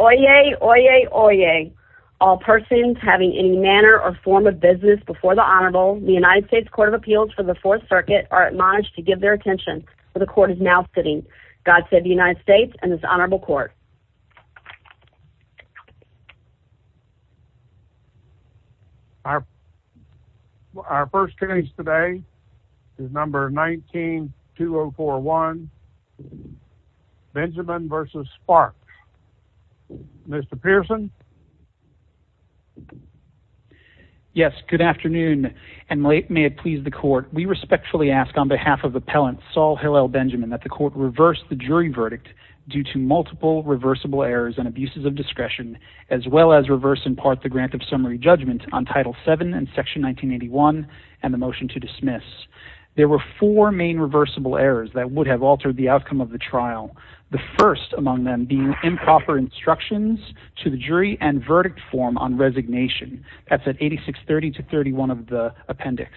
Oyez, oyez, oyez. All persons having any manner or form of business before the Honorable, the United States Court of Appeals for the Fourth Circuit are admonished to give their attention where the Court is now sitting. God save the United States and this Honorable Court. Our first case today is number 19-2041, Benjamin v. Sparks. Mr. Pearson? Yes, good afternoon and may it please the Court. We respectfully ask on behalf of Appellant Saul Hillel Benjamin that the Court reverse the jury verdict due to multiple reversible errors and abuses of discretion, as well as reverse in part the grant of summary judgment on Title VII and Section 1981 and the motion to dismiss. There were four main reversible errors that would have altered the outcome of the trial, the first among them being improper instructions to the jury and verdict form on resignation. That's at 8630-31 of the appendix.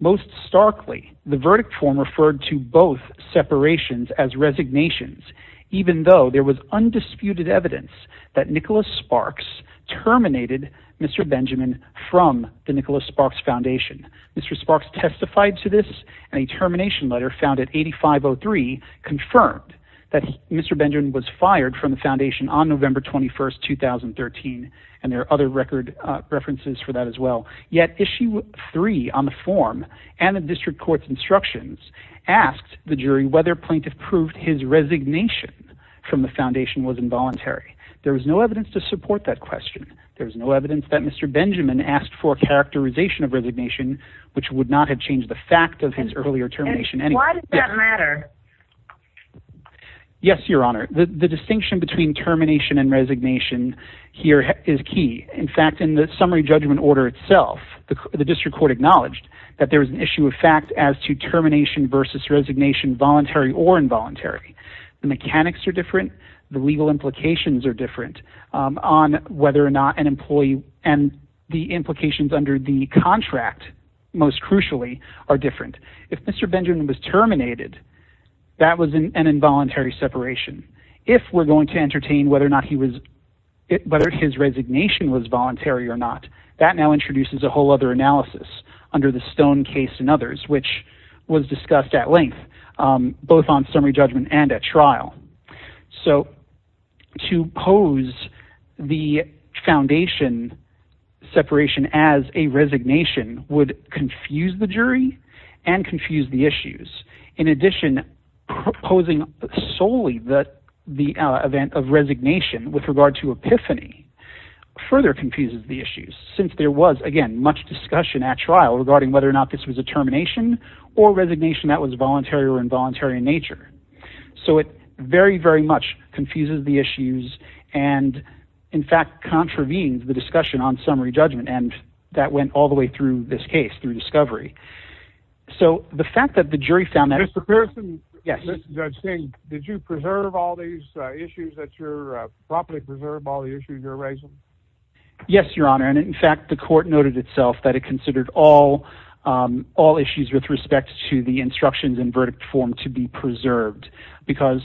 Most starkly, the verdict form referred to both separations as resignations, even though there was undisputed evidence that Nicholas Sparks terminated Mr. Benjamin from the Nicholas Sparks Foundation. Mr. Sparks testified to this and a termination letter found at 8503 confirmed that Mr. Benjamin was fired from the Foundation on November 21, 2013 and there the District Court's instructions asked the jury whether plaintiff proved his resignation from the Foundation was involuntary. There was no evidence to support that question. There was no evidence that Mr. Benjamin asked for a characterization of resignation, which would not have changed the fact of his earlier termination. And why did that matter? Yes, Your Honor, the distinction between termination and resignation here is key. In fact, in the summary judgment order itself, the District Court acknowledged that there was an issue of fact as to termination versus resignation, voluntary or involuntary. The mechanics are different. The legal implications are different on whether or not an employee and the implications under the contract, most crucially, are different. If Mr. Benjamin was terminated, that was an involuntary separation. If we're going to entertain whether or not he was, whether his resignation was voluntary or not, that now introduces a whole other analysis under the Stone case and others, which was discussed at length, both on summary judgment and at trial. So to pose the Foundation separation as a resignation would confuse the jury and confuse the issues. In addition, proposing solely that the event of resignation with regard to epiphany further confuses the issues, since there was, again, much discussion at trial regarding whether or not this was a termination or resignation that was voluntary or involuntary in nature. So it very, very much confuses the issues and, in fact, contravenes the discussion on summary judgment. And that went all the way through this case through discovery. So the fact that the jury found that... Judge Singh, did you preserve all these issues that you're... properly preserve all the issues you're raising? Yes, Your Honor. And, in fact, the court noted itself that it considered all issues with respect to the instructions and verdict form to be preserved, because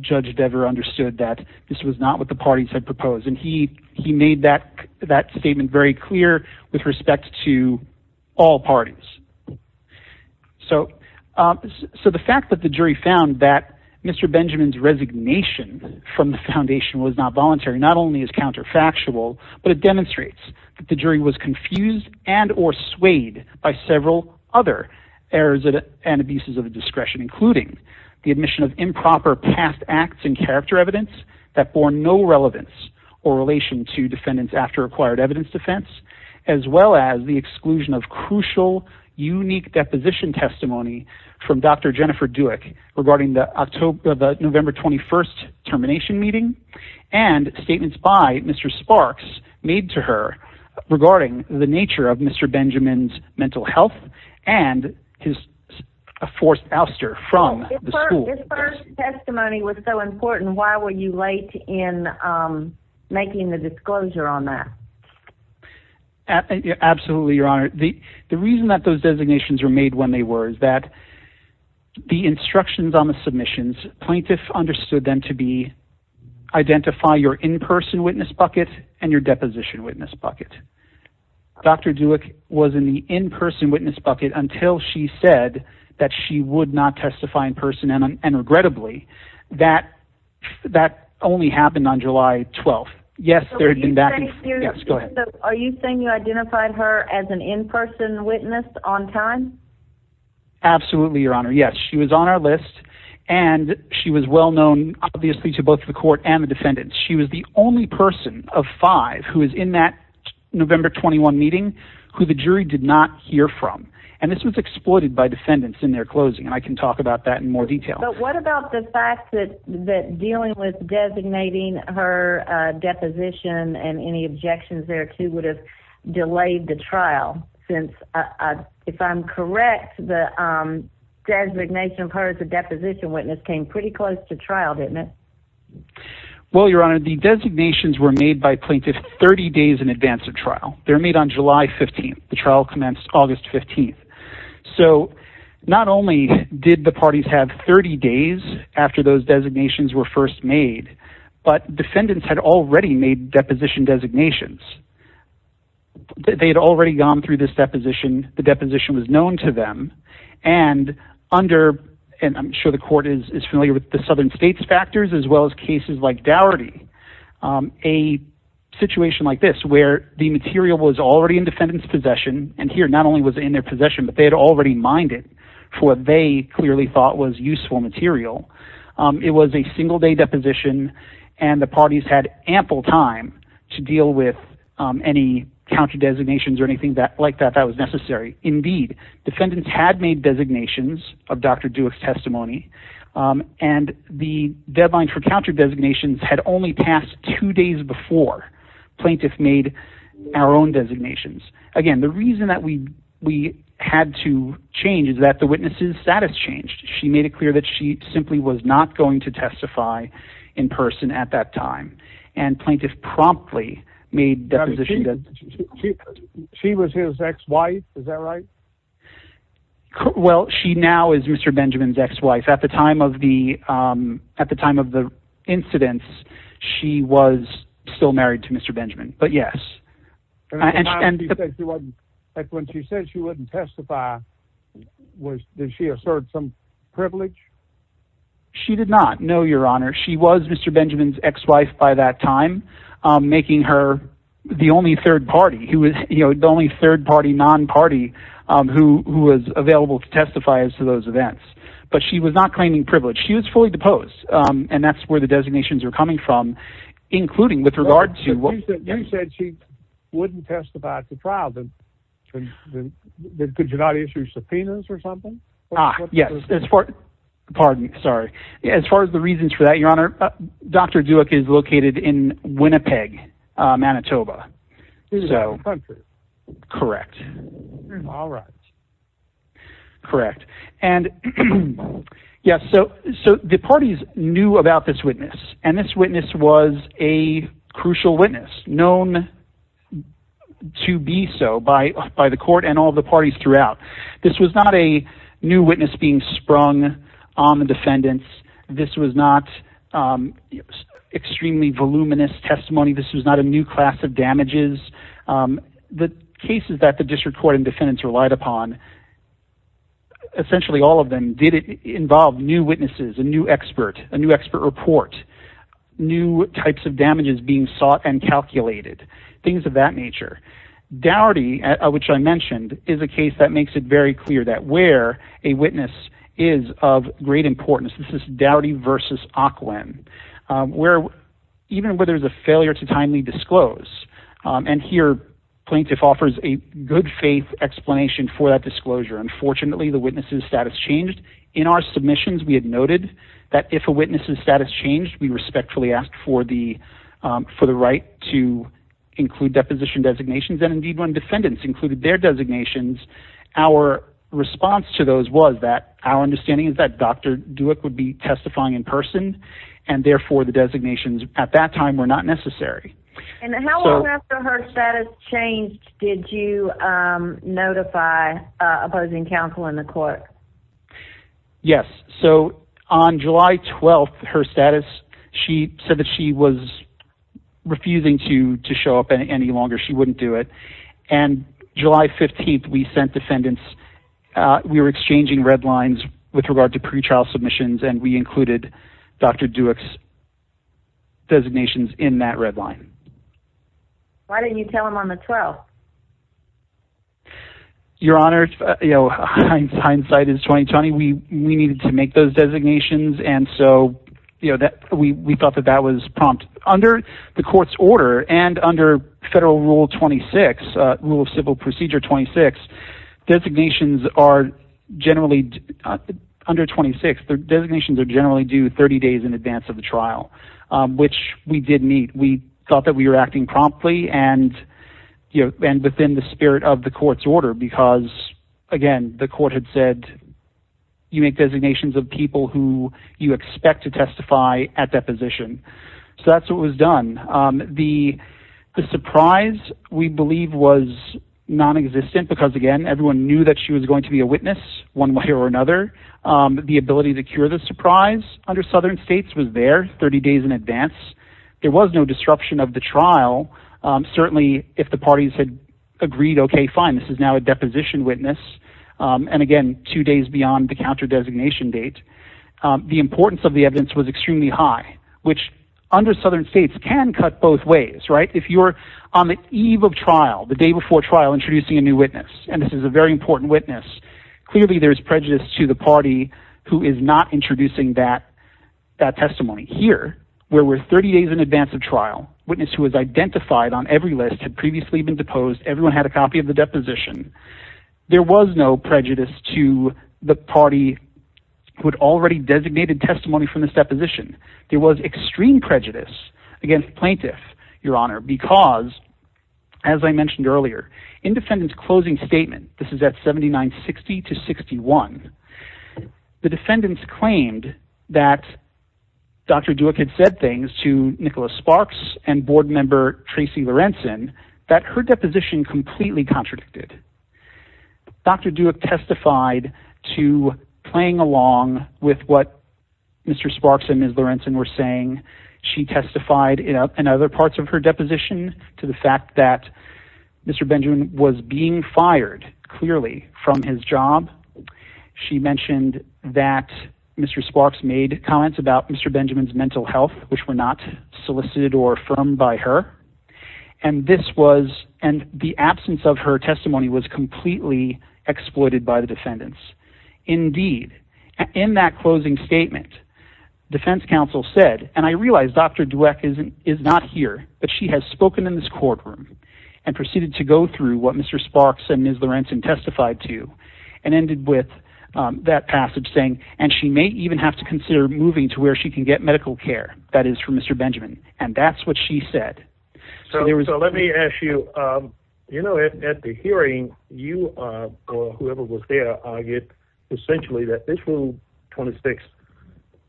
Judge Dever understood that this was not what the parties had proposed. And he made that statement very clear with respect to all parties. So the fact that the jury found that Mr. Benjamin's resignation from the Foundation was not voluntary not only is counterfactual, but it demonstrates that the jury was confused and or swayed by several other errors and abuses of discretion, including the admission of improper past acts and character evidence that bore no relevance or relation to defendants after acquired evidence defense, as well as the exclusion of crucial, unique deposition testimony from Dr. Jennifer Dueck regarding the November 21st termination meeting and statements by Mr. Sparks made to her regarding the nature of Mr. Benjamin's mental health and his forced ouster from the school. This first testimony was so important. Why were you late in making the disclosure on that? Absolutely, Your Honor. The reason that those designations were made when they were is that the instructions on the submissions, plaintiffs understood them to be identify your in-person witness bucket and your deposition witness bucket. Dr. Dueck was in the in-person witness bucket until she said that she would not testify in person and regrettably that that only happened on July 12th. Yes, there had been back. Yes, go ahead. Are you saying you identified her as an in-person witness on time? Absolutely, Your Honor. Yes, she was on our list and she was well known obviously to both the court and the defendants. She was the only person of five who is in that November 21 meeting who the jury did not hear from and this was exploited by defendants in their closing and I can talk about that in more detail. But what about the fact that dealing with designating her deposition and any objections there too would have delayed the trial since if I'm correct the designation of her as a deposition witness came pretty close to trial, didn't it? Well, Your Honor, the designations were made by plaintiffs 30 days in advance of trial. They're made on July 15th. The trial commenced August 15th. So not only did the parties have 30 days after those designations were first made but defendants had already made deposition designations. They had already gone through this deposition. The deposition was known to them and under and I'm sure the court is familiar with the southern states factors as well as cases like Dougherty. A situation like this where the material was already in defendant's possession and here not only was in their possession but they had already mined it for what they clearly thought was useful material. It was a single day deposition and the parties had ample time to deal with any counter designations or anything that like that that was counter designations had only passed two days before plaintiff made our own designations. Again, the reason that we had to change is that the witness's status changed. She made it clear that she simply was not going to testify in person at that time and plaintiff promptly made that position. She was his ex-wife, is that right? Well, she now is Mr. Benjamin's ex-wife. At the time of at the time of the incidents, she was still married to Mr. Benjamin, but yes. When she said she wouldn't testify, did she assert some privilege? She did not, no, your honor. She was Mr. Benjamin's ex-wife by that time, making her the only third party, the only third party non-party who was available to testify as those events, but she was not claiming privilege. She was fully deposed and that's where the designations are coming from, including with regard to what you said, she wouldn't testify at the trial. Then could you not issue subpoenas or something? Ah, yes, as far, pardon, sorry. As far as the reasons for that, your honor, Dr. Duke is located in Winnipeg, Manitoba. So, correct. All right, correct. And yes, so the parties knew about this witness and this witness was a crucial witness known to be so by the court and all the parties throughout. This was not a new witness being sprung on the defendants. This was not extremely voluminous testimony. This was not a new class of damages. The cases that the district court and defendants relied upon, essentially all of them did involve new witnesses, a new expert, a new expert report, new types of damages being sought and calculated, things of that nature. Dougherty, which I mentioned, is a case that makes it very clear that where a witness is of great concern, there is a need to disclose. And here plaintiff offers a good faith explanation for that disclosure. Unfortunately, the witness's status changed. In our submissions, we had noted that if a witness's status changed, we respectfully asked for the right to include deposition designations. And indeed, when defendants included their designations, our response to those was that our understanding is that Dr. Duke would be testifying in person and therefore the designations at that time were not necessary. And how long after her status changed did you notify opposing counsel in the court? Yes. So on July 12th, her status, she said that she was refusing to show up any longer. She wouldn't do it. And July 15th, we sent defendants. We were exchanging red lines with regard to pre-trial submissions and we included Dr. Duke's designations in that red line. Why didn't you tell him on the 12th? Your Honor, you know, hindsight is 20-20. We needed to make those designations. And so, you know, we thought that that was prompt. Under the court's order and under Federal Rule 26, Rule of Civil Procedure 26, designations are generally, under 26, their designations are generally due 30 days in advance of the trial, which we did meet. We thought that we were acting promptly and, you know, and within the spirit of the court's order because, again, the court had said you make designations of people who you expect to testify at deposition. So that's what was done. The surprise, we believe, was non-existent because, again, everyone knew that she was going to be a witness one way or another. The ability to cure the surprise under Southern States was there 30 days in advance. There was no disruption of the trial. Certainly, if the parties had agreed, okay, fine. This is now a deposition witness. And again, two days beyond the counter-designation date. The importance of the evidence was extremely high, which under Southern States can cut both ways, right? If you're on the eve of trial, the day before trial, introducing a new witness, and this is a very important witness, clearly there's prejudice to the party who is not introducing that testimony. Here, where we're 30 days in advance of trial, witness who is identified on every list had previously been deposed. Everyone had a copy of the deposition. There was no prejudice to the party who had already designated testimony from this deposition. There was extreme prejudice against plaintiff, your honor, because, as I mentioned earlier, in defendant's closing statement, this is at 7960 to 61, the defendants claimed that Dr. Duke had said things to Nicholas Sparks and board member Tracy Lorenzen that her deposition completely contradicted. Dr. Duke testified to playing along with what Mr. Sparks and Ms. Lorenzen were saying. She testified in other parts of her deposition to the fact that Mr. Benjamin was being fired clearly from his job. She mentioned that Mr. Sparks made comments about Mr. Benjamin's mental health, which were not solicited or affirmed by her. And this was, and the absence of her testimony was completely exploited by the defendants. Indeed, in that closing statement, defense counsel said, and I realized Dr. Duke is not here, but she has spoken in this courtroom and proceeded to go through what Mr. Sparks and Ms. Lorenzen testified to and ended with that passage saying, and she may even have to consider moving to where she can get medical care that is for Mr. Benjamin. And that's what she said. So let me ask you, you know, at the hearing, you or whoever was there argued essentially that this rule 26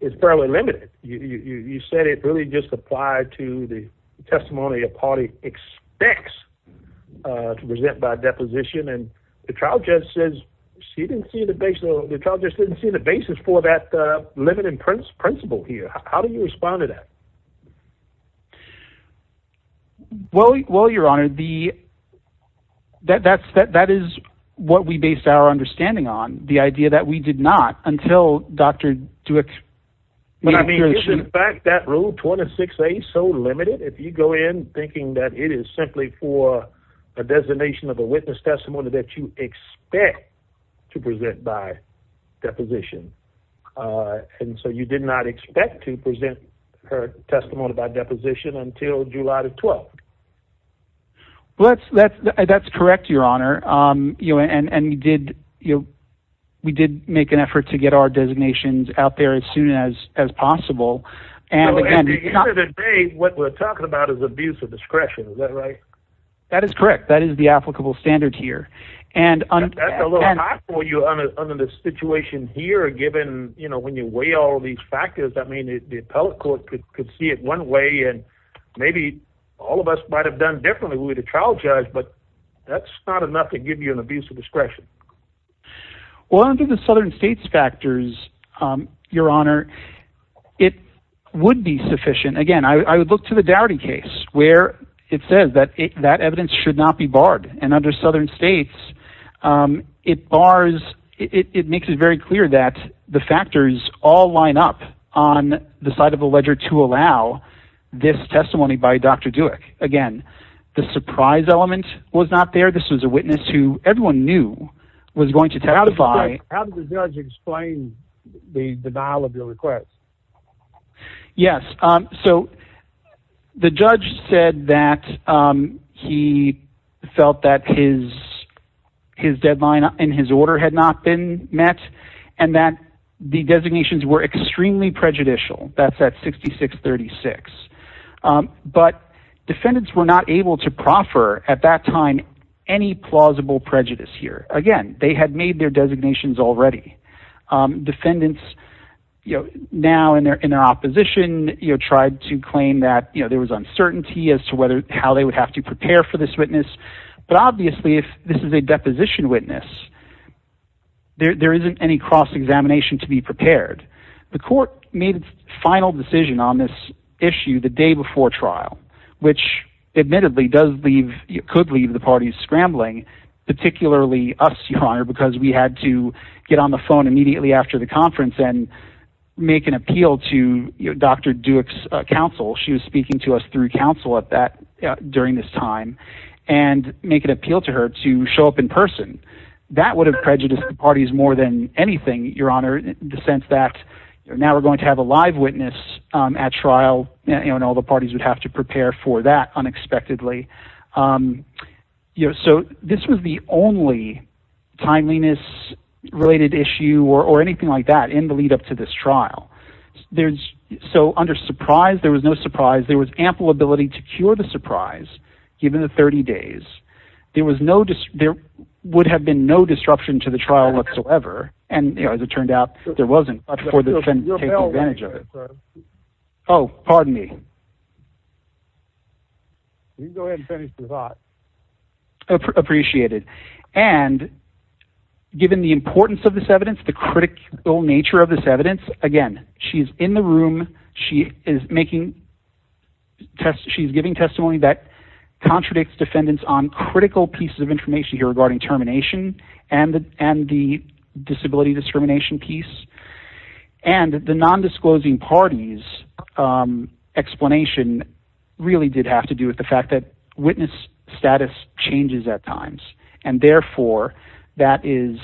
is fairly limited. You said it really just applied to the testimony a party expects to present by deposition. And the trial judge says she didn't see the base. The trial judge didn't see the basis for that limited principle here. How do you respond to that? Well, well, your honor, the, that, that's, that, that is what we based our understanding on the idea that we did not until Dr. Duke. Well, I mean, in fact, that rule 26, a so limited, if you go in thinking that it is simply for a designation of a witness testimony that you expect to present by deposition. Uh, and so you did not expect to present her testimony by deposition until July the 12th. Well, that's, that's, that's correct. Your honor. Um, you know, and, and we did, you know, we did make an effort to get our designations out there as soon as, as possible. And again, what we're talking about is abuse of discretion. Is that right? That is correct. That is the applicable standard here. And under the situation here, given, you know, when you weigh all of these factors, I mean, the appellate court could see it one way and maybe all of us might've done differently. We would have trial judge, but that's not enough to give you an abuse of discretion. Well, I don't think the Southern states factors, um, your honor, it would be sufficient. Again, I would look to the dowry case where it says that that evidence should not be barred. And under side of a ledger to allow this testimony by Dr. Duke, again, the surprise element was not there. This was a witness who everyone knew was going to testify. How did the judge explain the denial of your request? Yes. Um, so the judge said that, um, he felt that his, his deadline in his order had not been met and that the designations were extremely prejudicial. That's at 66 36. Um, but defendants were not able to proffer at that time, any plausible prejudice here. Again, they had made their designations already. Um, defendants, you know, now in their, in their opposition, you know, tried to claim that, you know, there was uncertainty as to whether, how they would have to prepare for this witness. But obviously if this is a deposition witness, there, there isn't any cross examination to be prepared. The court made final decision on this issue the day before trial, which admittedly does leave, you could leave the parties scrambling, particularly us, your honor, because we had to get on the phone immediately after the conference and make an appeal to Dr. Duke's counsel. She was speaking to us through counsel at that during this time and make an appeal to her to show up in person. That would have prejudiced the parties more than anything, your honor, the sense that now we're going to have a live witness at trial and all the parties would have to prepare for that unexpectedly. Um, you know, so this was the only timeliness related issue or, or anything like that in the lead up to this trial. There's so under surprise, there was no surprise. There was ample ability to cure the surprise. Given the 30 days, there was no, there would have been no disruption to the trial whatsoever. And as it turned out, there wasn't much for the defendant to take advantage of it. Oh, pardon me. You go ahead and finish the thought. Appreciate it. And given the importance of this evidence, the critical nature of this evidence, again, she's in the room. She is making tests. She's giving testimony that contradicts defendants on critical pieces of information here regarding termination and, and the disability discrimination piece and the non-disclosing parties, um, really did have to do with the fact that witness status changes at times. And therefore that is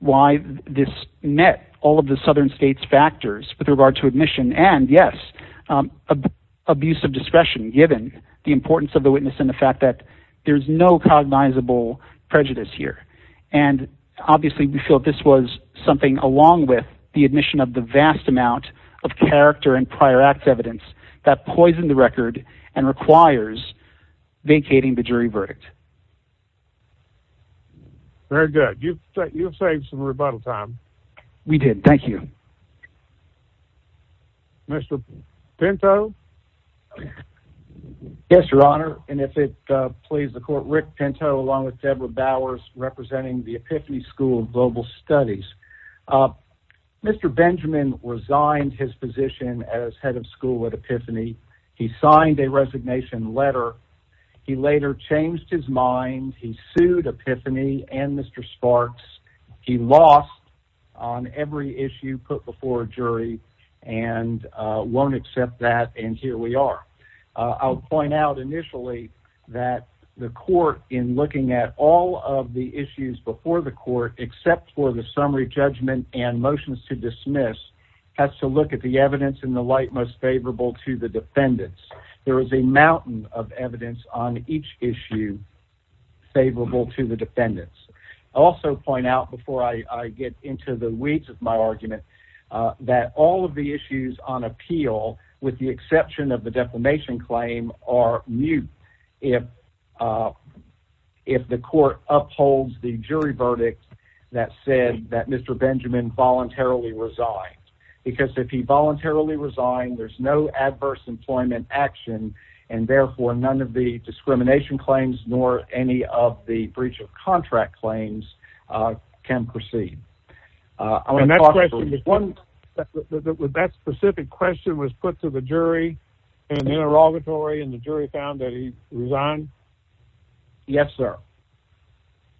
why this met all of the Southern states factors with regard to admission. And yes, um, abuse of discretion, given the importance of the witness and the fact that there's no cognizable prejudice here. And obviously we feel that this was something along with the admission of the vast amount of character and prior act evidence that poisoned the record and requires vacating the jury verdict. Very good. You've saved some rebuttal time. We did. Thank you. Mr. Pinto. Yes, your honor. And if it please the court, Rick Pinto, along with Deborah Bowers, representing the epiphany school of global studies, uh, Mr. Benjamin resigned his position as head of school at epiphany. He signed a resignation letter. He later changed his mind. He sued epiphany and Mr. Sparks. He lost on every issue put before a jury and, uh, won't accept that. And here we are, uh, I'll point out initially that the court in looking at all of the issues before the court, except for the summary judgment and motions to dismiss has to look at the evidence in the light, most favorable to the defendants. There is a mountain of evidence on each issue favorable to the defendants. Also point out before I get into the weeds of my argument, uh, that all of the issues on appeal with the exception of the defamation claim are mute. If, uh, if the court upholds the jury verdict that said that Mr. Benjamin voluntarily resigned because if he voluntarily resigned, there's no adverse employment action. And therefore none of the discrimination claims, nor any of the breach of contract claims, uh, proceed. Uh, that specific question was put to the jury and the interrogatory and the jury found that he resigned. Yes, sir.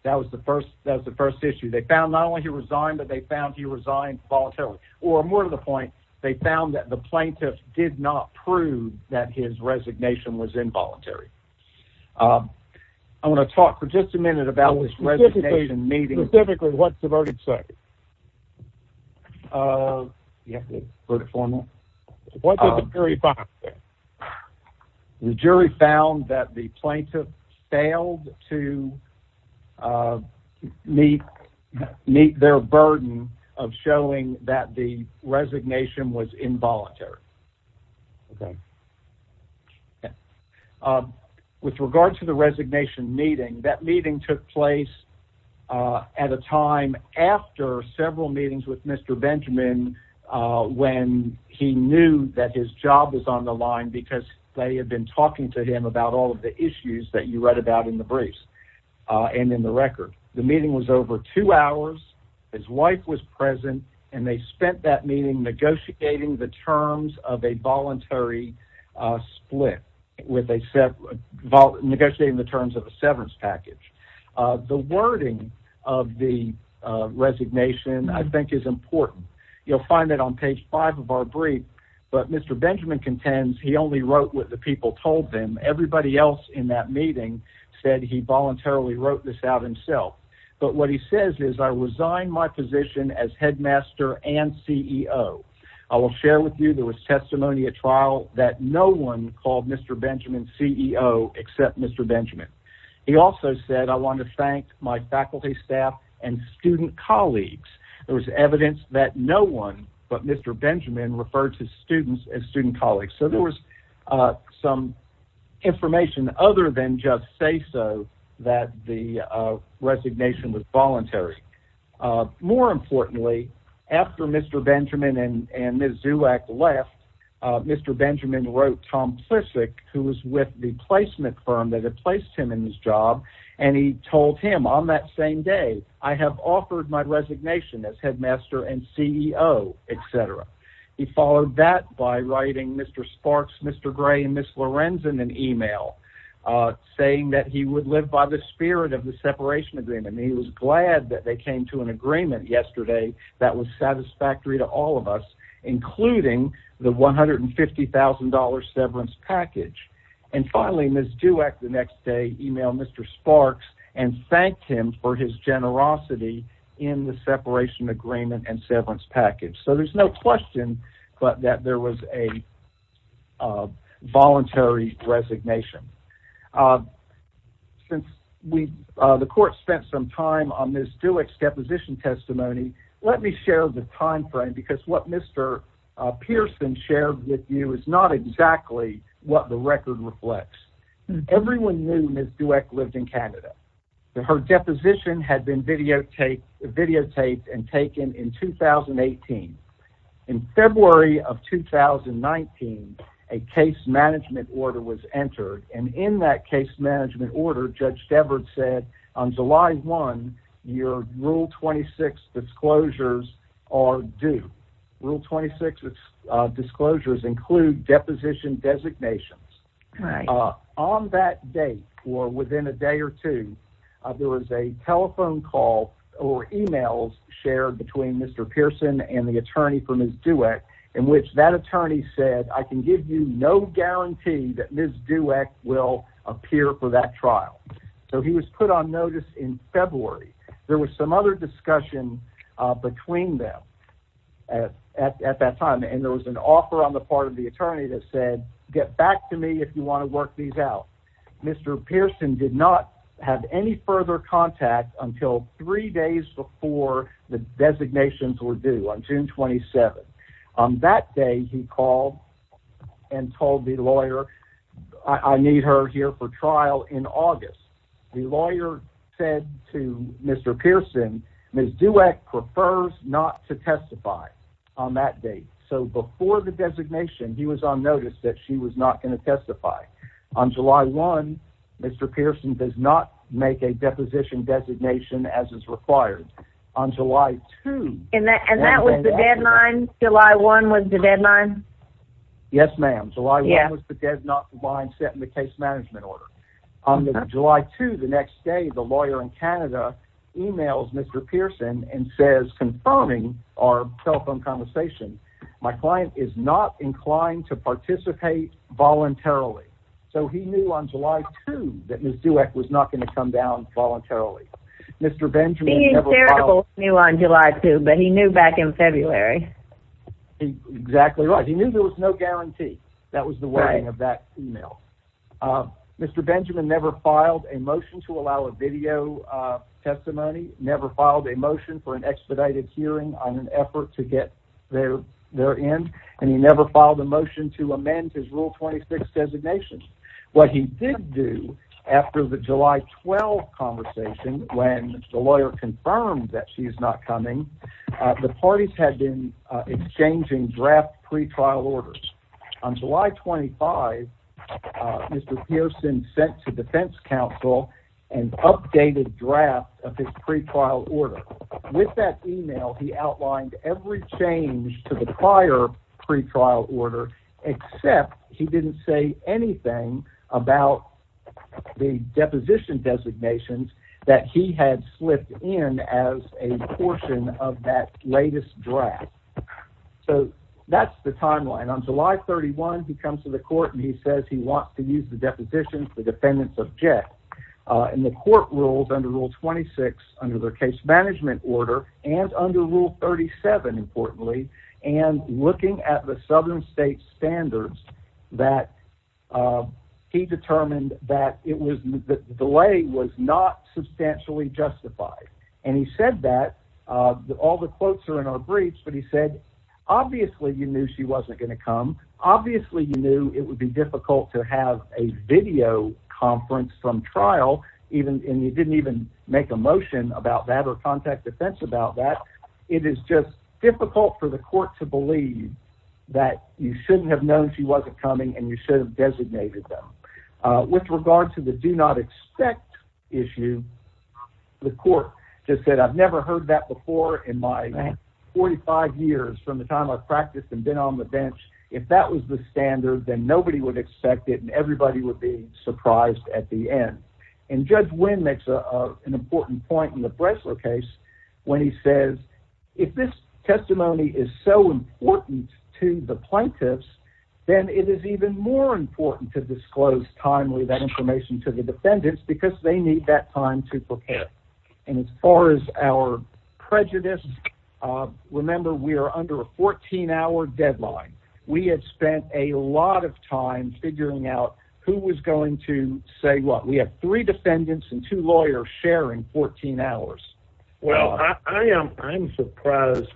That was the first, that was the first issue they found not only he resigned, but they found he resigned voluntarily or more to the point. They found that the plaintiff did not prove that his resignation was involuntary. Um, I want to talk for just a minute about this meeting. Specifically what's the verdict? So, uh, yeah, for the formal jury found that the plaintiff failed to, uh, meet, meet their burden of showing that the resignation was involuntary. Okay. Yeah. Um, with regard to the resignation meeting, that meeting took place, uh, at a time after several meetings with Mr. Benjamin, uh, when he knew that his job was on the line because they had been talking to him about all of the issues that you read about in the briefs, uh, and in the record, the meeting was over two hours. His wife was present and they spent that meeting negotiating the terms of a voluntary, uh, split with a set negotiating the terms of a severance package. Uh, the wording of the, uh, resignation, I think is important. You'll find that on page five of our brief, but Mr. Benjamin contends he only wrote what the people told them. Everybody else in that meeting said he voluntarily wrote this out himself. But what he says is I will share with you. There was testimony at trial that no one called Mr. Benjamin CEO, except Mr. Benjamin. He also said, I want to thank my faculty staff and student colleagues. There was evidence that no one, but Mr. Benjamin referred to students as student colleagues. So there was, uh, some information other than just say so that the, uh, resignation was voluntary. Uh, more importantly, after Mr. Benjamin and Ms. Zuak left, uh, Mr. Benjamin wrote Tom Plissick, who was with the placement firm that had placed him in his job. And he told him on that same day, I have offered my resignation as headmaster and CEO, et cetera. He followed that by writing Mr. Sparks, Mr. Gray, and Ms. Lorenzen, an email, uh, saying that he would live by the spirit of the separation agreement. And he was glad that they came to an agreement yesterday. That was satisfactory to all of us, including the $150,000 severance package. And finally, Ms. Zuak the next day, email Mr. Sparks and thanked him for his generosity in the separation agreement and severance package. So there's no question, but that there was a, uh, voluntary resignation. Uh, since we, uh, the court spent some time on Ms. Zuak's deposition testimony, let me share the timeframe because what Mr. Pearson shared with you is not exactly what the record reflects. Everyone knew Ms. Zuak lived in Canada and her deposition had been videotaped videotaped and taken in 2018. In February of 2019, a case management order was entered. And in that case management order, judge Devard said on July one, your rule 26 disclosures are due. Rule 26 disclosures include deposition designations on that date or within a day or two. There was a telephone call or emails shared between Mr. Pearson and the attorney for Ms. Zuak in which that attorney said, I can give you no guarantee that Ms. Zuak will appear for that trial. So he was put on notice in February. There was some other discussion, uh, between them at, at, at that time. And there was an offer on the part of the attorney that said, get back to me. If you want to work these out, Mr. Pearson did not have any further contact until three days before the designations were due on June 27. Um, that day he called and told the lawyer, I need her here for trial in August. The lawyer said to Mr. Pearson, Ms. Zuak prefers not to testify on that date. So before the designation, he was on notice that she was not going to testify on July one, Mr. Pearson does not make a deposition designation as is required on July two. And that was the deadline. July one was the deadline. Yes, ma'am. July one was the deadline set in the case management order on July two. The next day, the lawyer in Canada emails Mr. Pearson and says, confirming our telephone conversation, my client is not inclined to participate voluntarily. So he knew on July two that Ms. Zuak was not going to come down voluntarily. Mr. Benjamin never filed a motion to allow a video testimony, never filed a motion for an expedited hearing on an effort to get their, their end. And he never filed a motion to amend his rule 26 designations. What he did do after the July 12 conversation, when the lawyer confirmed that she's not coming, the parties had been exchanging draft pretrial orders. On July 25, Mr. Pearson sent to defense counsel and updated draft of his pretrial order. With that email, he outlined every change to the prior pretrial order, except he didn't say anything about the deposition designations that he had slipped in as a portion of that latest draft. So that's the timeline on July 31, he comes to the court and he says he wants to use the deposition for defendants of JET. And the court rules under rule 26 under the case management order and under rule 37, importantly, and looking at the southern state standards that he determined that it was the delay was not substantially justified. And he said that all the quotes are in our briefs, but he said, obviously you knew she wasn't going to come. Obviously you knew it would be difficult to have a video conference, some trial, even, and you didn't even make a motion about that or contact defense about that. It is just difficult for the court to believe that you shouldn't have known she wasn't coming and you should have designated them with regard to the do not expect issue. The court just said, I've never heard that before in my 45 years from the time I've practiced and been on the bench. If that was the standard, then nobody would expect it and everybody would be surprised at the end. And Judge Wynn makes an important point in the Bressler case when he says if this testimony is so important to the plaintiffs, then it is even more important to disclose timely that information to the defendants because they need that time to prepare. And as far as our prejudice, remember, we are under a 14 hour deadline. We had spent a lot of time figuring out who was going to say what we have three defendants and two lawyers sharing 14 hours. Well, I am, I'm surprised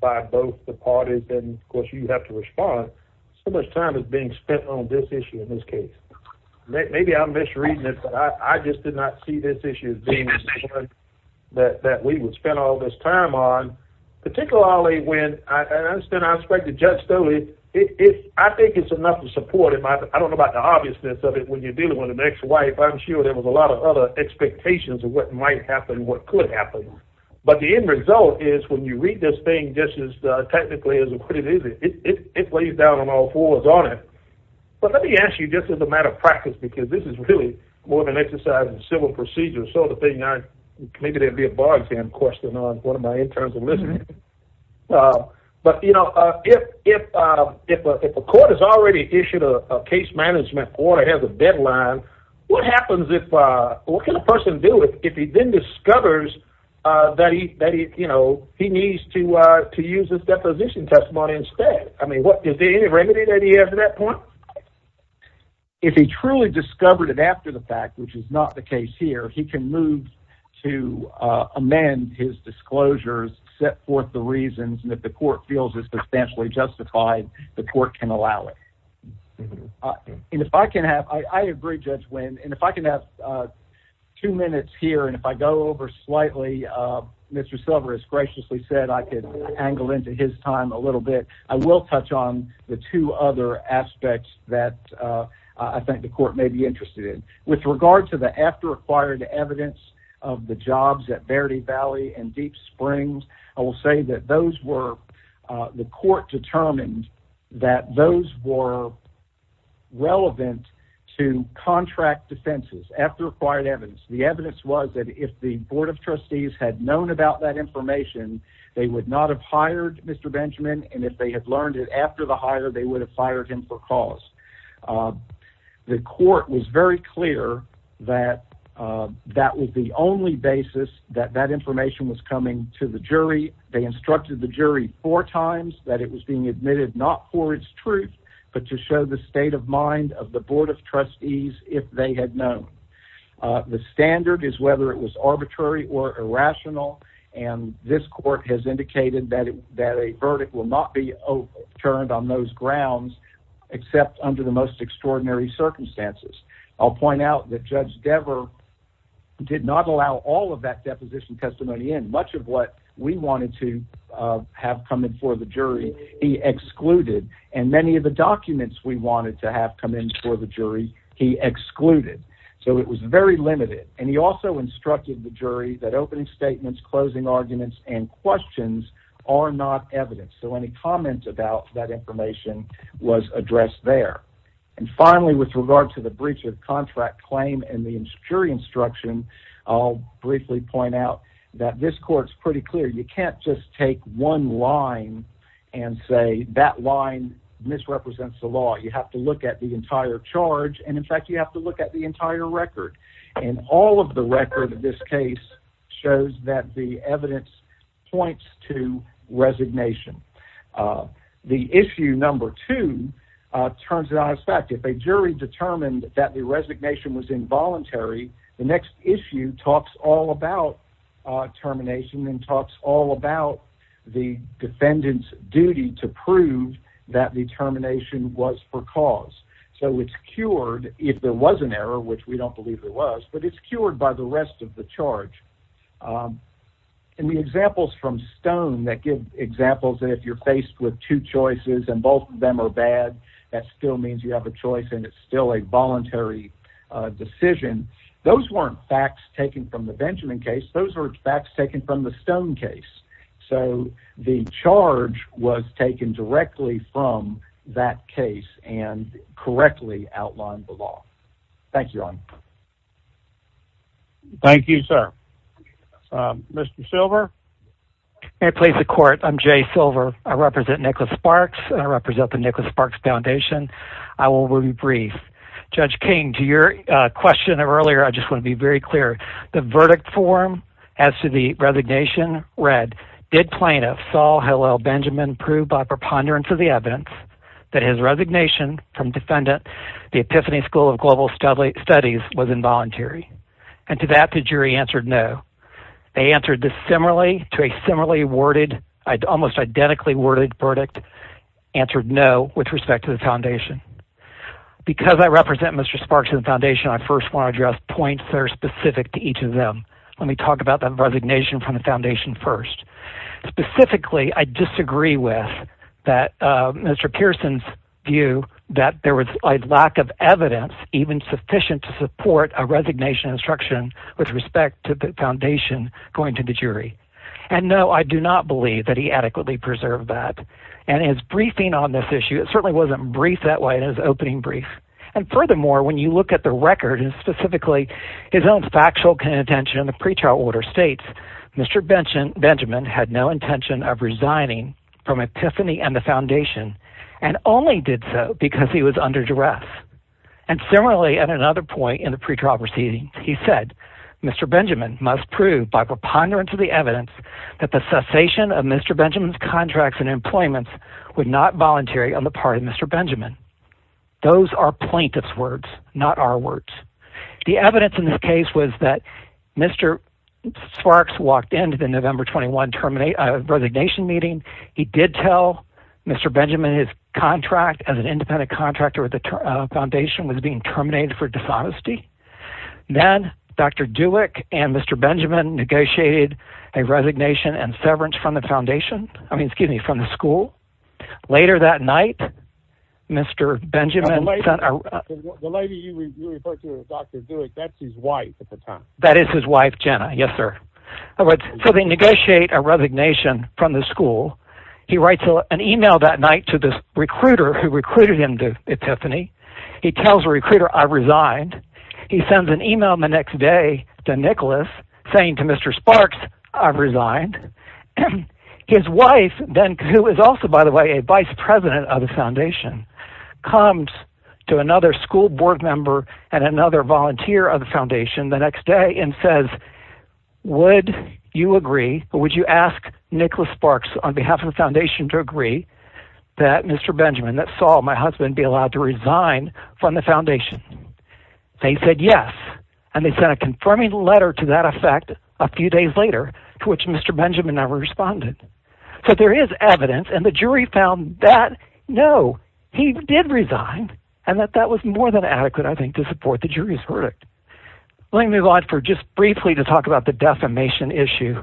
by both the parties and of course you have to respond so much time is being spent on this issue in this case. Maybe I'm misreading it, but I just did not see this issue that we would spend all this time on, particularly when I understand, I expect the judge still, I think it's enough to support him. I don't know about the obviousness of it when you're dealing with an ex-wife. I'm sure there was a lot of other expectations of what might happen, what could happen. But the end result is when you read this thing, just as technically as it is, it weighs down on all fours on it. But let me ask you just as a matter of practice, because this is really more than exercise in civil procedure. So the thing I, maybe there'd be a bar exam question on what am I in terms of listening. But you know, if a court has already issued a case management order, it has a deadline, what happens if, what can a person do if he then discovers that he, you know, he needs to, to use this deposition testimony instead? I mean, what is the remedy that he has at that point? If he truly discovered it after the fact, which is not the case here, he can move to amend his disclosures, set forth the reasons, and if the court feels it's substantially justified, the court can allow it. And if I can have, I agree Judge Wynn, and if I can have two minutes here and if I go over slightly, Mr. Silver has graciously said I could angle into his time a little bit. I will touch on the two other aspects that I think the court may be interested in. With regard to the after-acquired evidence of the jobs at Verde Valley and Deep Springs, I will say that those were, the court determined that those were relevant to contract defenses, after-acquired evidence. The evidence was that if the Board of Trustees had known about that information, they would not have hired Mr. Benjamin, and if they had learned it after the hire, they would have fired him for cause. The court was very clear that that was the only basis that that information was coming to the jury. They instructed the jury four times that it was being admitted not for its truth, but to show the state of mind of the Board of Trustees if they had known. The standard is whether it was arbitrary or irrational, and this court has indicated that a verdict will not be overturned on those grounds except under the most extraordinary circumstances. I'll point out that Judge Dever did not allow all of that deposition testimony in. Much of what we wanted to have come in for the jury, he excluded, and many of the documents we wanted to have come in for the jury, he excluded. So it was very limited, and he also instructed the jury that opening statements, closing arguments, and questions are not evidence. So any comment about that information was addressed there. And finally, with regard to the breach of contract claim and the jury instruction, I'll briefly point out that this court's pretty clear. You can't just take one line and say that line misrepresents the law. You have to look at the entire charge, and in fact, you have to look at the entire record, and all of the record of this case shows that the evidence points to resignation. The issue number two turns out, in fact, if a jury determined that the resignation was involuntary, the next issue talks all about termination and talks all about the defendant's duty to prove that the termination was for cause. So it's cured if there was an error, which we don't believe there was, but it's cured by the rest of the charge. And the examples from Stone that give examples that if you're faced with two choices and both of them are bad, that still means you have a choice and it's still a voluntary decision, those weren't facts taken from the Benjamin case, those were facts taken from the Stone case. So the charge was taken directly from that case and correctly outlined the law. Thank you, Ron. Thank you, sir. Mr. Silver? May I please the court? I'm Jay Silver. I represent Nicholas Sparks and I represent the Nicholas Sparks Foundation. I will be brief. Judge King, to your question earlier, I just want to be very clear. The verdict form as to the resignation read, did plaintiff Saul Hillel Benjamin prove by preponderance of the evidence that his resignation from defendant, the Epiphany School of Global Studies was involuntary? And to that, the jury answered no. They answered dissimilarly to a similarly worded, almost identically worded answered no with respect to the foundation. Because I represent Mr. Sparks and the foundation, I first want to address points that are specific to each of them. Let me talk about that resignation from the foundation first. Specifically, I disagree with that Mr. Pearson's view that there was a lack of evidence even sufficient to support a resignation instruction with respect to the foundation going to the jury. And no, I do not believe that he adequately preserved that. And his briefing on this issue, it certainly wasn't brief that way in his opening brief. And furthermore, when you look at the record and specifically his own factual contention in the pretrial order states, Mr. Benjamin had no intention of resigning from Epiphany and the foundation and only did so because he was under duress. And similarly, at another point in the pretrial proceedings, he said, Mr. Benjamin must prove by preponderance of the evidence that the cessation of Mr. Benjamin's contracts and employments would not volunteer on the part of Mr. Benjamin. Those are plaintiff's words, not our words. The evidence in this case was that Mr. Sparks walked into the November 21 resignation meeting. He did tell Mr. Benjamin his contract as an independent contractor at the foundation was being terminated for dishonesty. Then Dr. Dulek and Mr. Benjamin negotiated a resignation and severance from the foundation. I mean, excuse me, from the school later that night, Mr. Benjamin. That is his wife, Jenna. Yes, sir. So they negotiate a resignation from the school. He writes an email that night to this recruiter who recruited him to Epiphany. He tells the recruiter, I resigned. He sends an email the next day to Nicholas saying to Mr. Sparks, I've resigned. His wife then, who is also, by the way, a vice president of the foundation, comes to another school board member and another volunteer of the foundation the next day and says, would you agree or would you ask Nicholas Sparks on behalf of the foundation to agree that Mr. Benjamin, that Saul, my husband, be allowed to resign from the foundation? They said yes. And they sent a confirming letter to that effect a few days later, to which Mr. Benjamin never responded. So there is evidence. And the jury found that no, he did resign and that that was more than adequate, I think, to support the jury's verdict. Let me move on for just briefly to talk about the defamation issue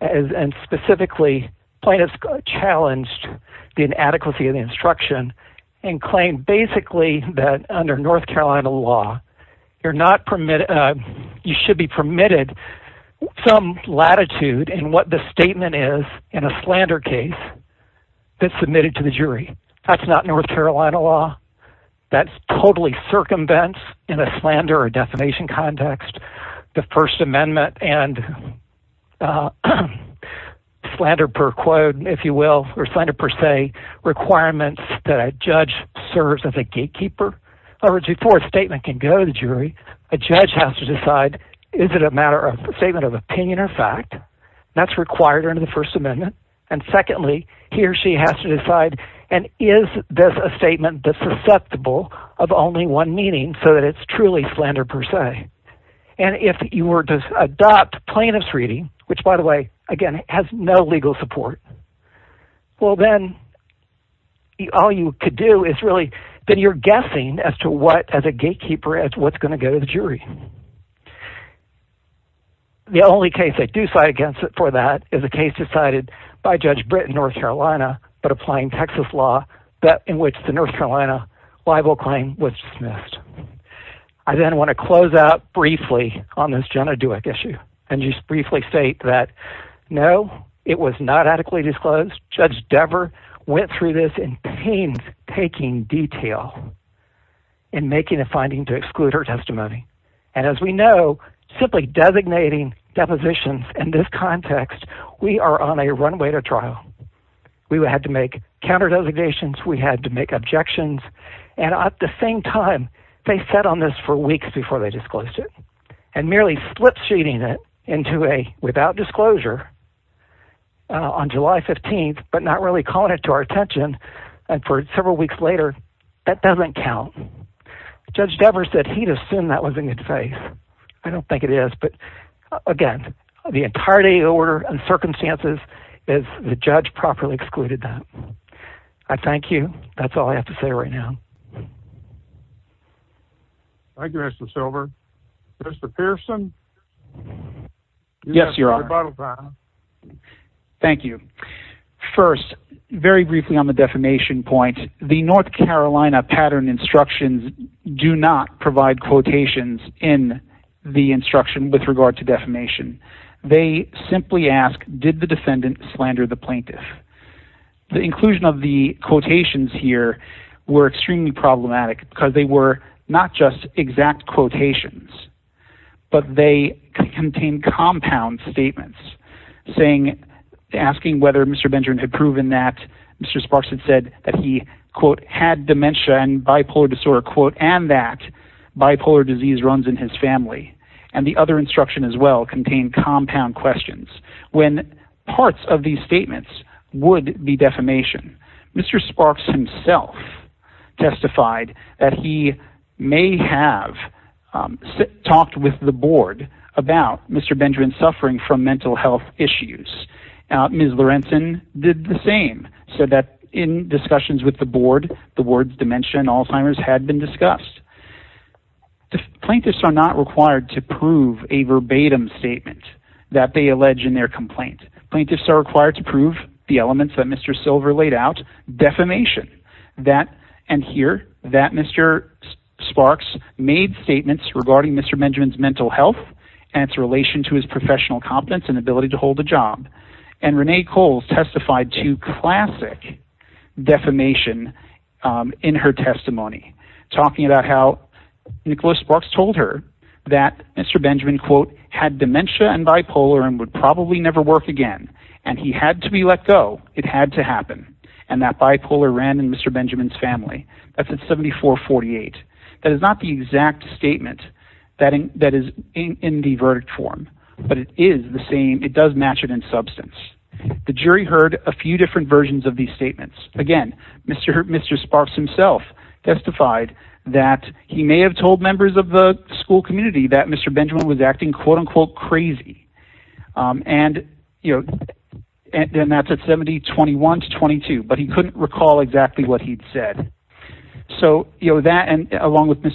and specifically plaintiffs challenged the inadequacy of the instruction and claimed basically that under North Carolina law, you're not permitted, you should be permitted some latitude in what the statement is in a slander case that's submitted to the jury. That's not North Carolina law. That's totally circumvents in a slander or defamation context, the first amendment and slander per quote, if you will, or slander per se requirements that a judge serves as a gatekeeper or before a statement can go to the jury, a judge has to decide, is it a matter of statement of opinion or fact that's required under the first amendment? And secondly, he or she has to decide, and is this a statement that's susceptible of only one meaning so that it's truly slander per se? And if you were to adopt plaintiff's reading, which by the way, again, has no legal support, well, then all you could do is really that you're guessing as to what as a gatekeeper, as what's going to go to the jury. The only case I do side against it for that is a case decided by Judge Britton, North Carolina, but applying Texas law that in which the North Carolina libel claim was dismissed. I then want to close out briefly on this Jenna Dueck issue and just briefly state that no, it was not adequately disclosed. Judge Dever went through this in pain, taking detail and making a finding to exclude her testimony. And as we know, simply designating depositions in this context, we are on a runway to trial. We had to make counter designations. We had to make objections. And at the same time, they sat on this for weeks before they disclosed it and merely flip sheeting it into a without disclosure on July 15th, but not really calling it to our attention. And for several weeks later, that doesn't count. Judge Dever said he'd assume that was in good faith. I don't think it is. But the judge properly excluded that. I thank you. That's all I have to say right now. Thank you, Mr. Silver. Mr. Pearson. Yes, your honor. Thank you. First, very briefly on the defamation point, the North Carolina pattern instructions do not provide quotations in the instruction with regard to defamation. They simply ask, did the defendant slander the plaintiff? The inclusion of the quotations here were extremely problematic because they were not just exact quotations, but they contain compound statements saying, asking whether Mr. Benjamin had proven that Mr. Sparks had said that he, quote, had dementia and and that bipolar disease runs in his family. And the other instruction as well contain compound questions when parts of these statements would be defamation. Mr. Sparks himself testified that he may have talked with the board about Mr. Benjamin suffering from mental health issues. Ms. Lorentzen did the same, said that in discussions with the board, the words dementia and Alzheimer's had been discussed. Plaintiffs are not required to prove a verbatim statement that they allege in their complaint. Plaintiffs are required to prove the elements that Mr. Silver laid out, defamation, that and here that Mr. Sparks made statements regarding Mr. Benjamin's and its relation to his professional competence and ability to hold a job. And Renee Coles testified to classic defamation in her testimony, talking about how Nicholas Sparks told her that Mr. Benjamin, quote, had dementia and bipolar and would probably never work again. And he had to be let go. It had to happen. And that bipolar ran in Mr. Benjamin's family. That's at 74, 48. That is not the exact statement that is in the verdict form, but it is the same. It does match it in substance. The jury heard a few different versions of these statements. Again, Mr. Sparks himself testified that he may have told members of the school community that Mr. Benjamin was acting, quote, unquote, crazy. And, you know, and that's at 70, 21 to 22, but he couldn't recall exactly what he'd said. So, you know, that and along with Ms.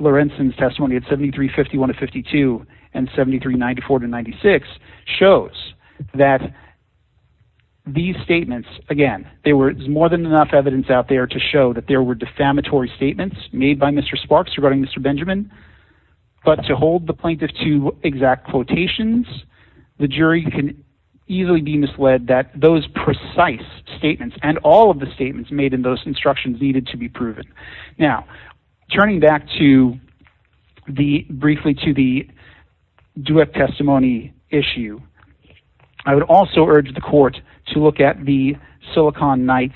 Lorenzen's testimony at 73, 51 to 52 and 73, 94 to 96 shows that these statements, again, there was more than enough evidence out there to show that there were defamatory statements made by Mr. Sparks regarding Mr. Benjamin. But to hold the plaintiff to exact quotations, the jury can easily be misled that those precise statements and all of the statements made in those instructions needed to be proven. Now, turning back to the briefly to the duet testimony issue, I would also urge the court to look at the Silicon Knights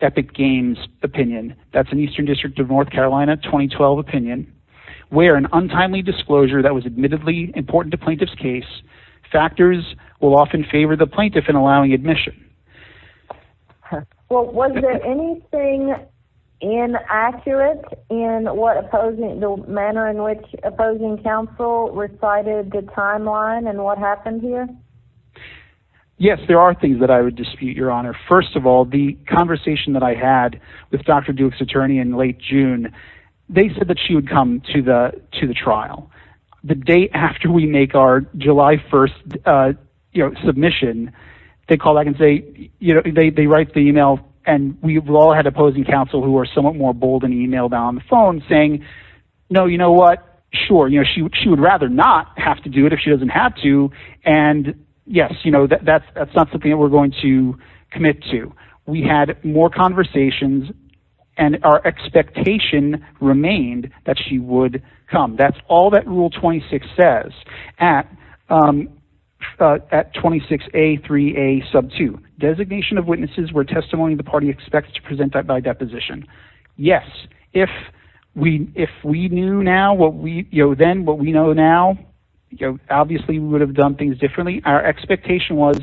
Epic Games opinion. That's an Eastern District of North Carolina 2012 opinion where an untimely disclosure that was admittedly important to plaintiff's case factors will often favor the plaintiff in allowing admission. Well, was there anything inaccurate in what opposing the manner in which opposing counsel recited the timeline and what happened here? Yes, there are things that I would dispute, Your Honor. First of all, the conversation that I had with Dr. Duke's attorney in late June, they said that she would come to the trial. The day after we make our July 1st submission, they call back and say, they write the email and we've all had opposing counsel who are somewhat more bold and emailed on the phone saying, no, you know what? Sure. She would rather not have to do it if she doesn't have to. And yes, that's not something that we're going to commit to. We had more conversations and our expectation remained that she would come. That's all that rule 26 says at 26A3A sub 2. Designation of witnesses where testimony of the party expects to present that by deposition. Yes. If we knew now what we, you know, then what we know now, obviously we would have done things differently. Our expectation was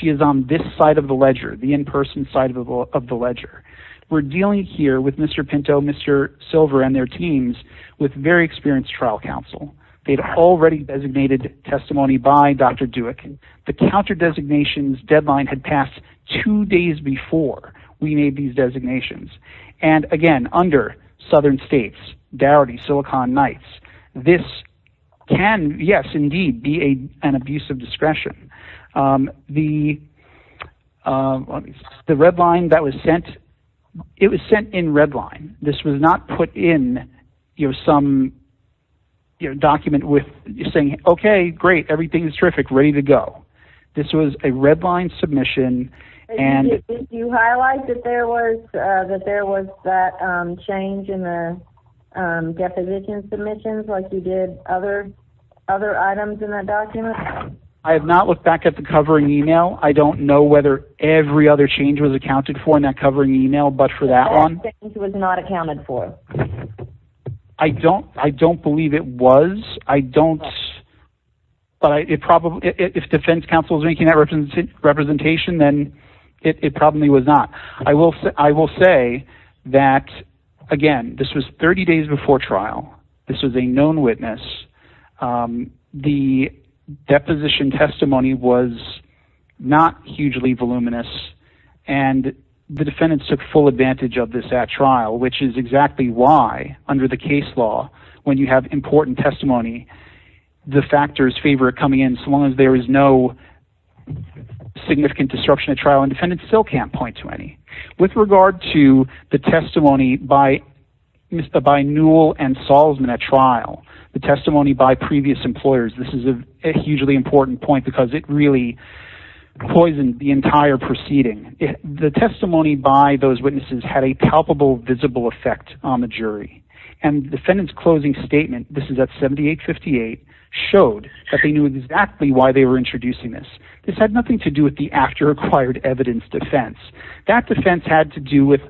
she is on this side of the ledger. We're dealing here with Mr. Pinto, Mr. Silver and their teams with very experienced trial counsel. They'd already designated testimony by Dr. Duke. The counter designations deadline had passed two days before we made these designations. And again, under Southern States, Darity, Silicon Knights. This can, yes, indeed be a, an abuse of discretion. The red line that was sent, it was sent in red line. This was not put in, you know, some document with saying, okay, great. Everything's terrific. Ready to go. This was a red line submission. And you highlight that there was that there was that change in the deposition submissions. Like you did other, other items in that document. I have not looked back at the covering email. I don't know whether every other change was accounted for in that covering email, but for that one, it was not accounted for. I don't, I don't believe it was. I don't, but it probably, if defense counsel is making that representation, then it probably was not. I will say, I will say that again, this was 30 days before trial. This was a known witness. The deposition testimony was not hugely voluminous and the defendants took full advantage of this at trial, which is exactly why under the case law, when you have important testimony, the factors favor coming in so long as there is no significant disruption at trial and defendants still can't point to any. With regard to the testimony by, by Newell and Salzman at trial, the testimony by previous employers, this is a hugely important point because it really poisoned the entire proceeding. The testimony by those witnesses had a palpable visible effect on the jury and defendants closing statement. This is at 7858 showed that they knew exactly why they were introducing this. This had nothing to do with the after acquired evidence defense. That defense had to do with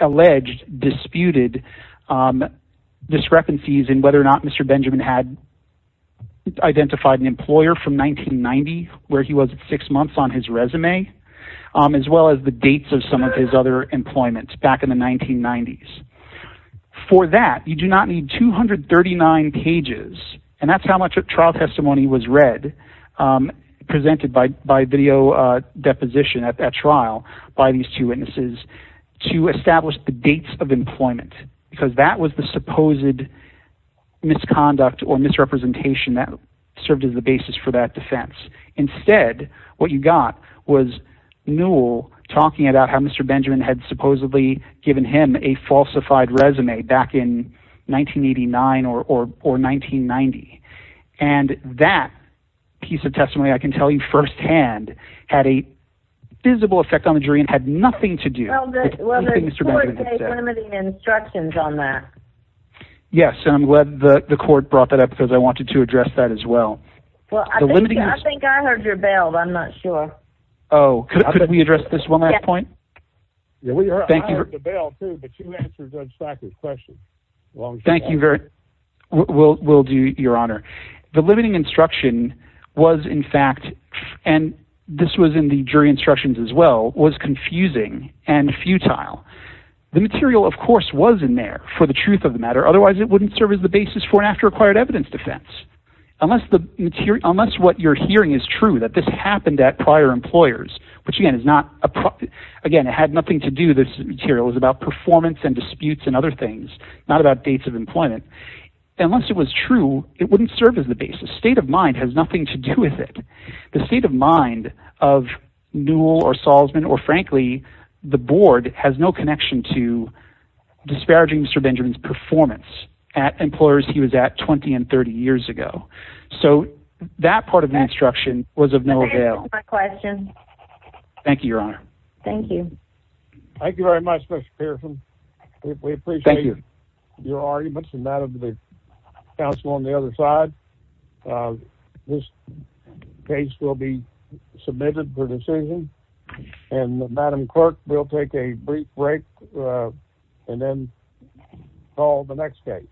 alleged disputed discrepancies in whether or not Mr. Benjamin had identified an employer from 1990 where he was at six months on his resume, as well as the dates of some of his other employments back in the 1990s. For that, you do not need 239 pages. And that's how much trial testimony was read, um, presented by, by video, uh, deposition at that trial by these two witnesses to establish the dates of employment, because that was the supposed misconduct or misrepresentation that served as the basis for that defense. Instead, what you got was Newell talking about how Mr. Benjamin had supposedly given him a falsified resume back in 1989 or, or, or 1990. And that piece of testimony, I can tell you firsthand had a visible effect on the jury and had nothing to do with limiting instructions on that. Yes. And I'm glad the court brought that up because I wanted to address that as well. Well, I think I heard your bail. I'm not sure. Oh, could we address this one at that point? Yeah, we are. Thank you for the bail too, but you answered the question. Thank you very well. We'll do your honor. The limiting instruction was in fact, and this was in the jury instructions as well, was confusing and futile. The material of course, was in there for the truth of the matter. Otherwise it wouldn't serve as the basis for an after acquired evidence defense, unless the material, unless what you're hearing is true, that this happened at prior employers, which again is not, again, it had nothing to do. This material was about performance and disputes and other things, not about dates of employment. Unless it was true, it wouldn't serve as the basis. State of mind has nothing to do with it. The state of mind of Newell or Salzman, or frankly, the board has no connection to disparaging Mr. Benjamin's performance at employers he was at 20 and 30 years ago. So that part of the instruction was of no avail. Thank you, your honor. Thank you. Thank you very much, Mr. Pearson. We appreciate your arguments and that of the counsel on the other side. This case will be submitted for decision. And Madam clerk, we'll take a brief break and then call the next case.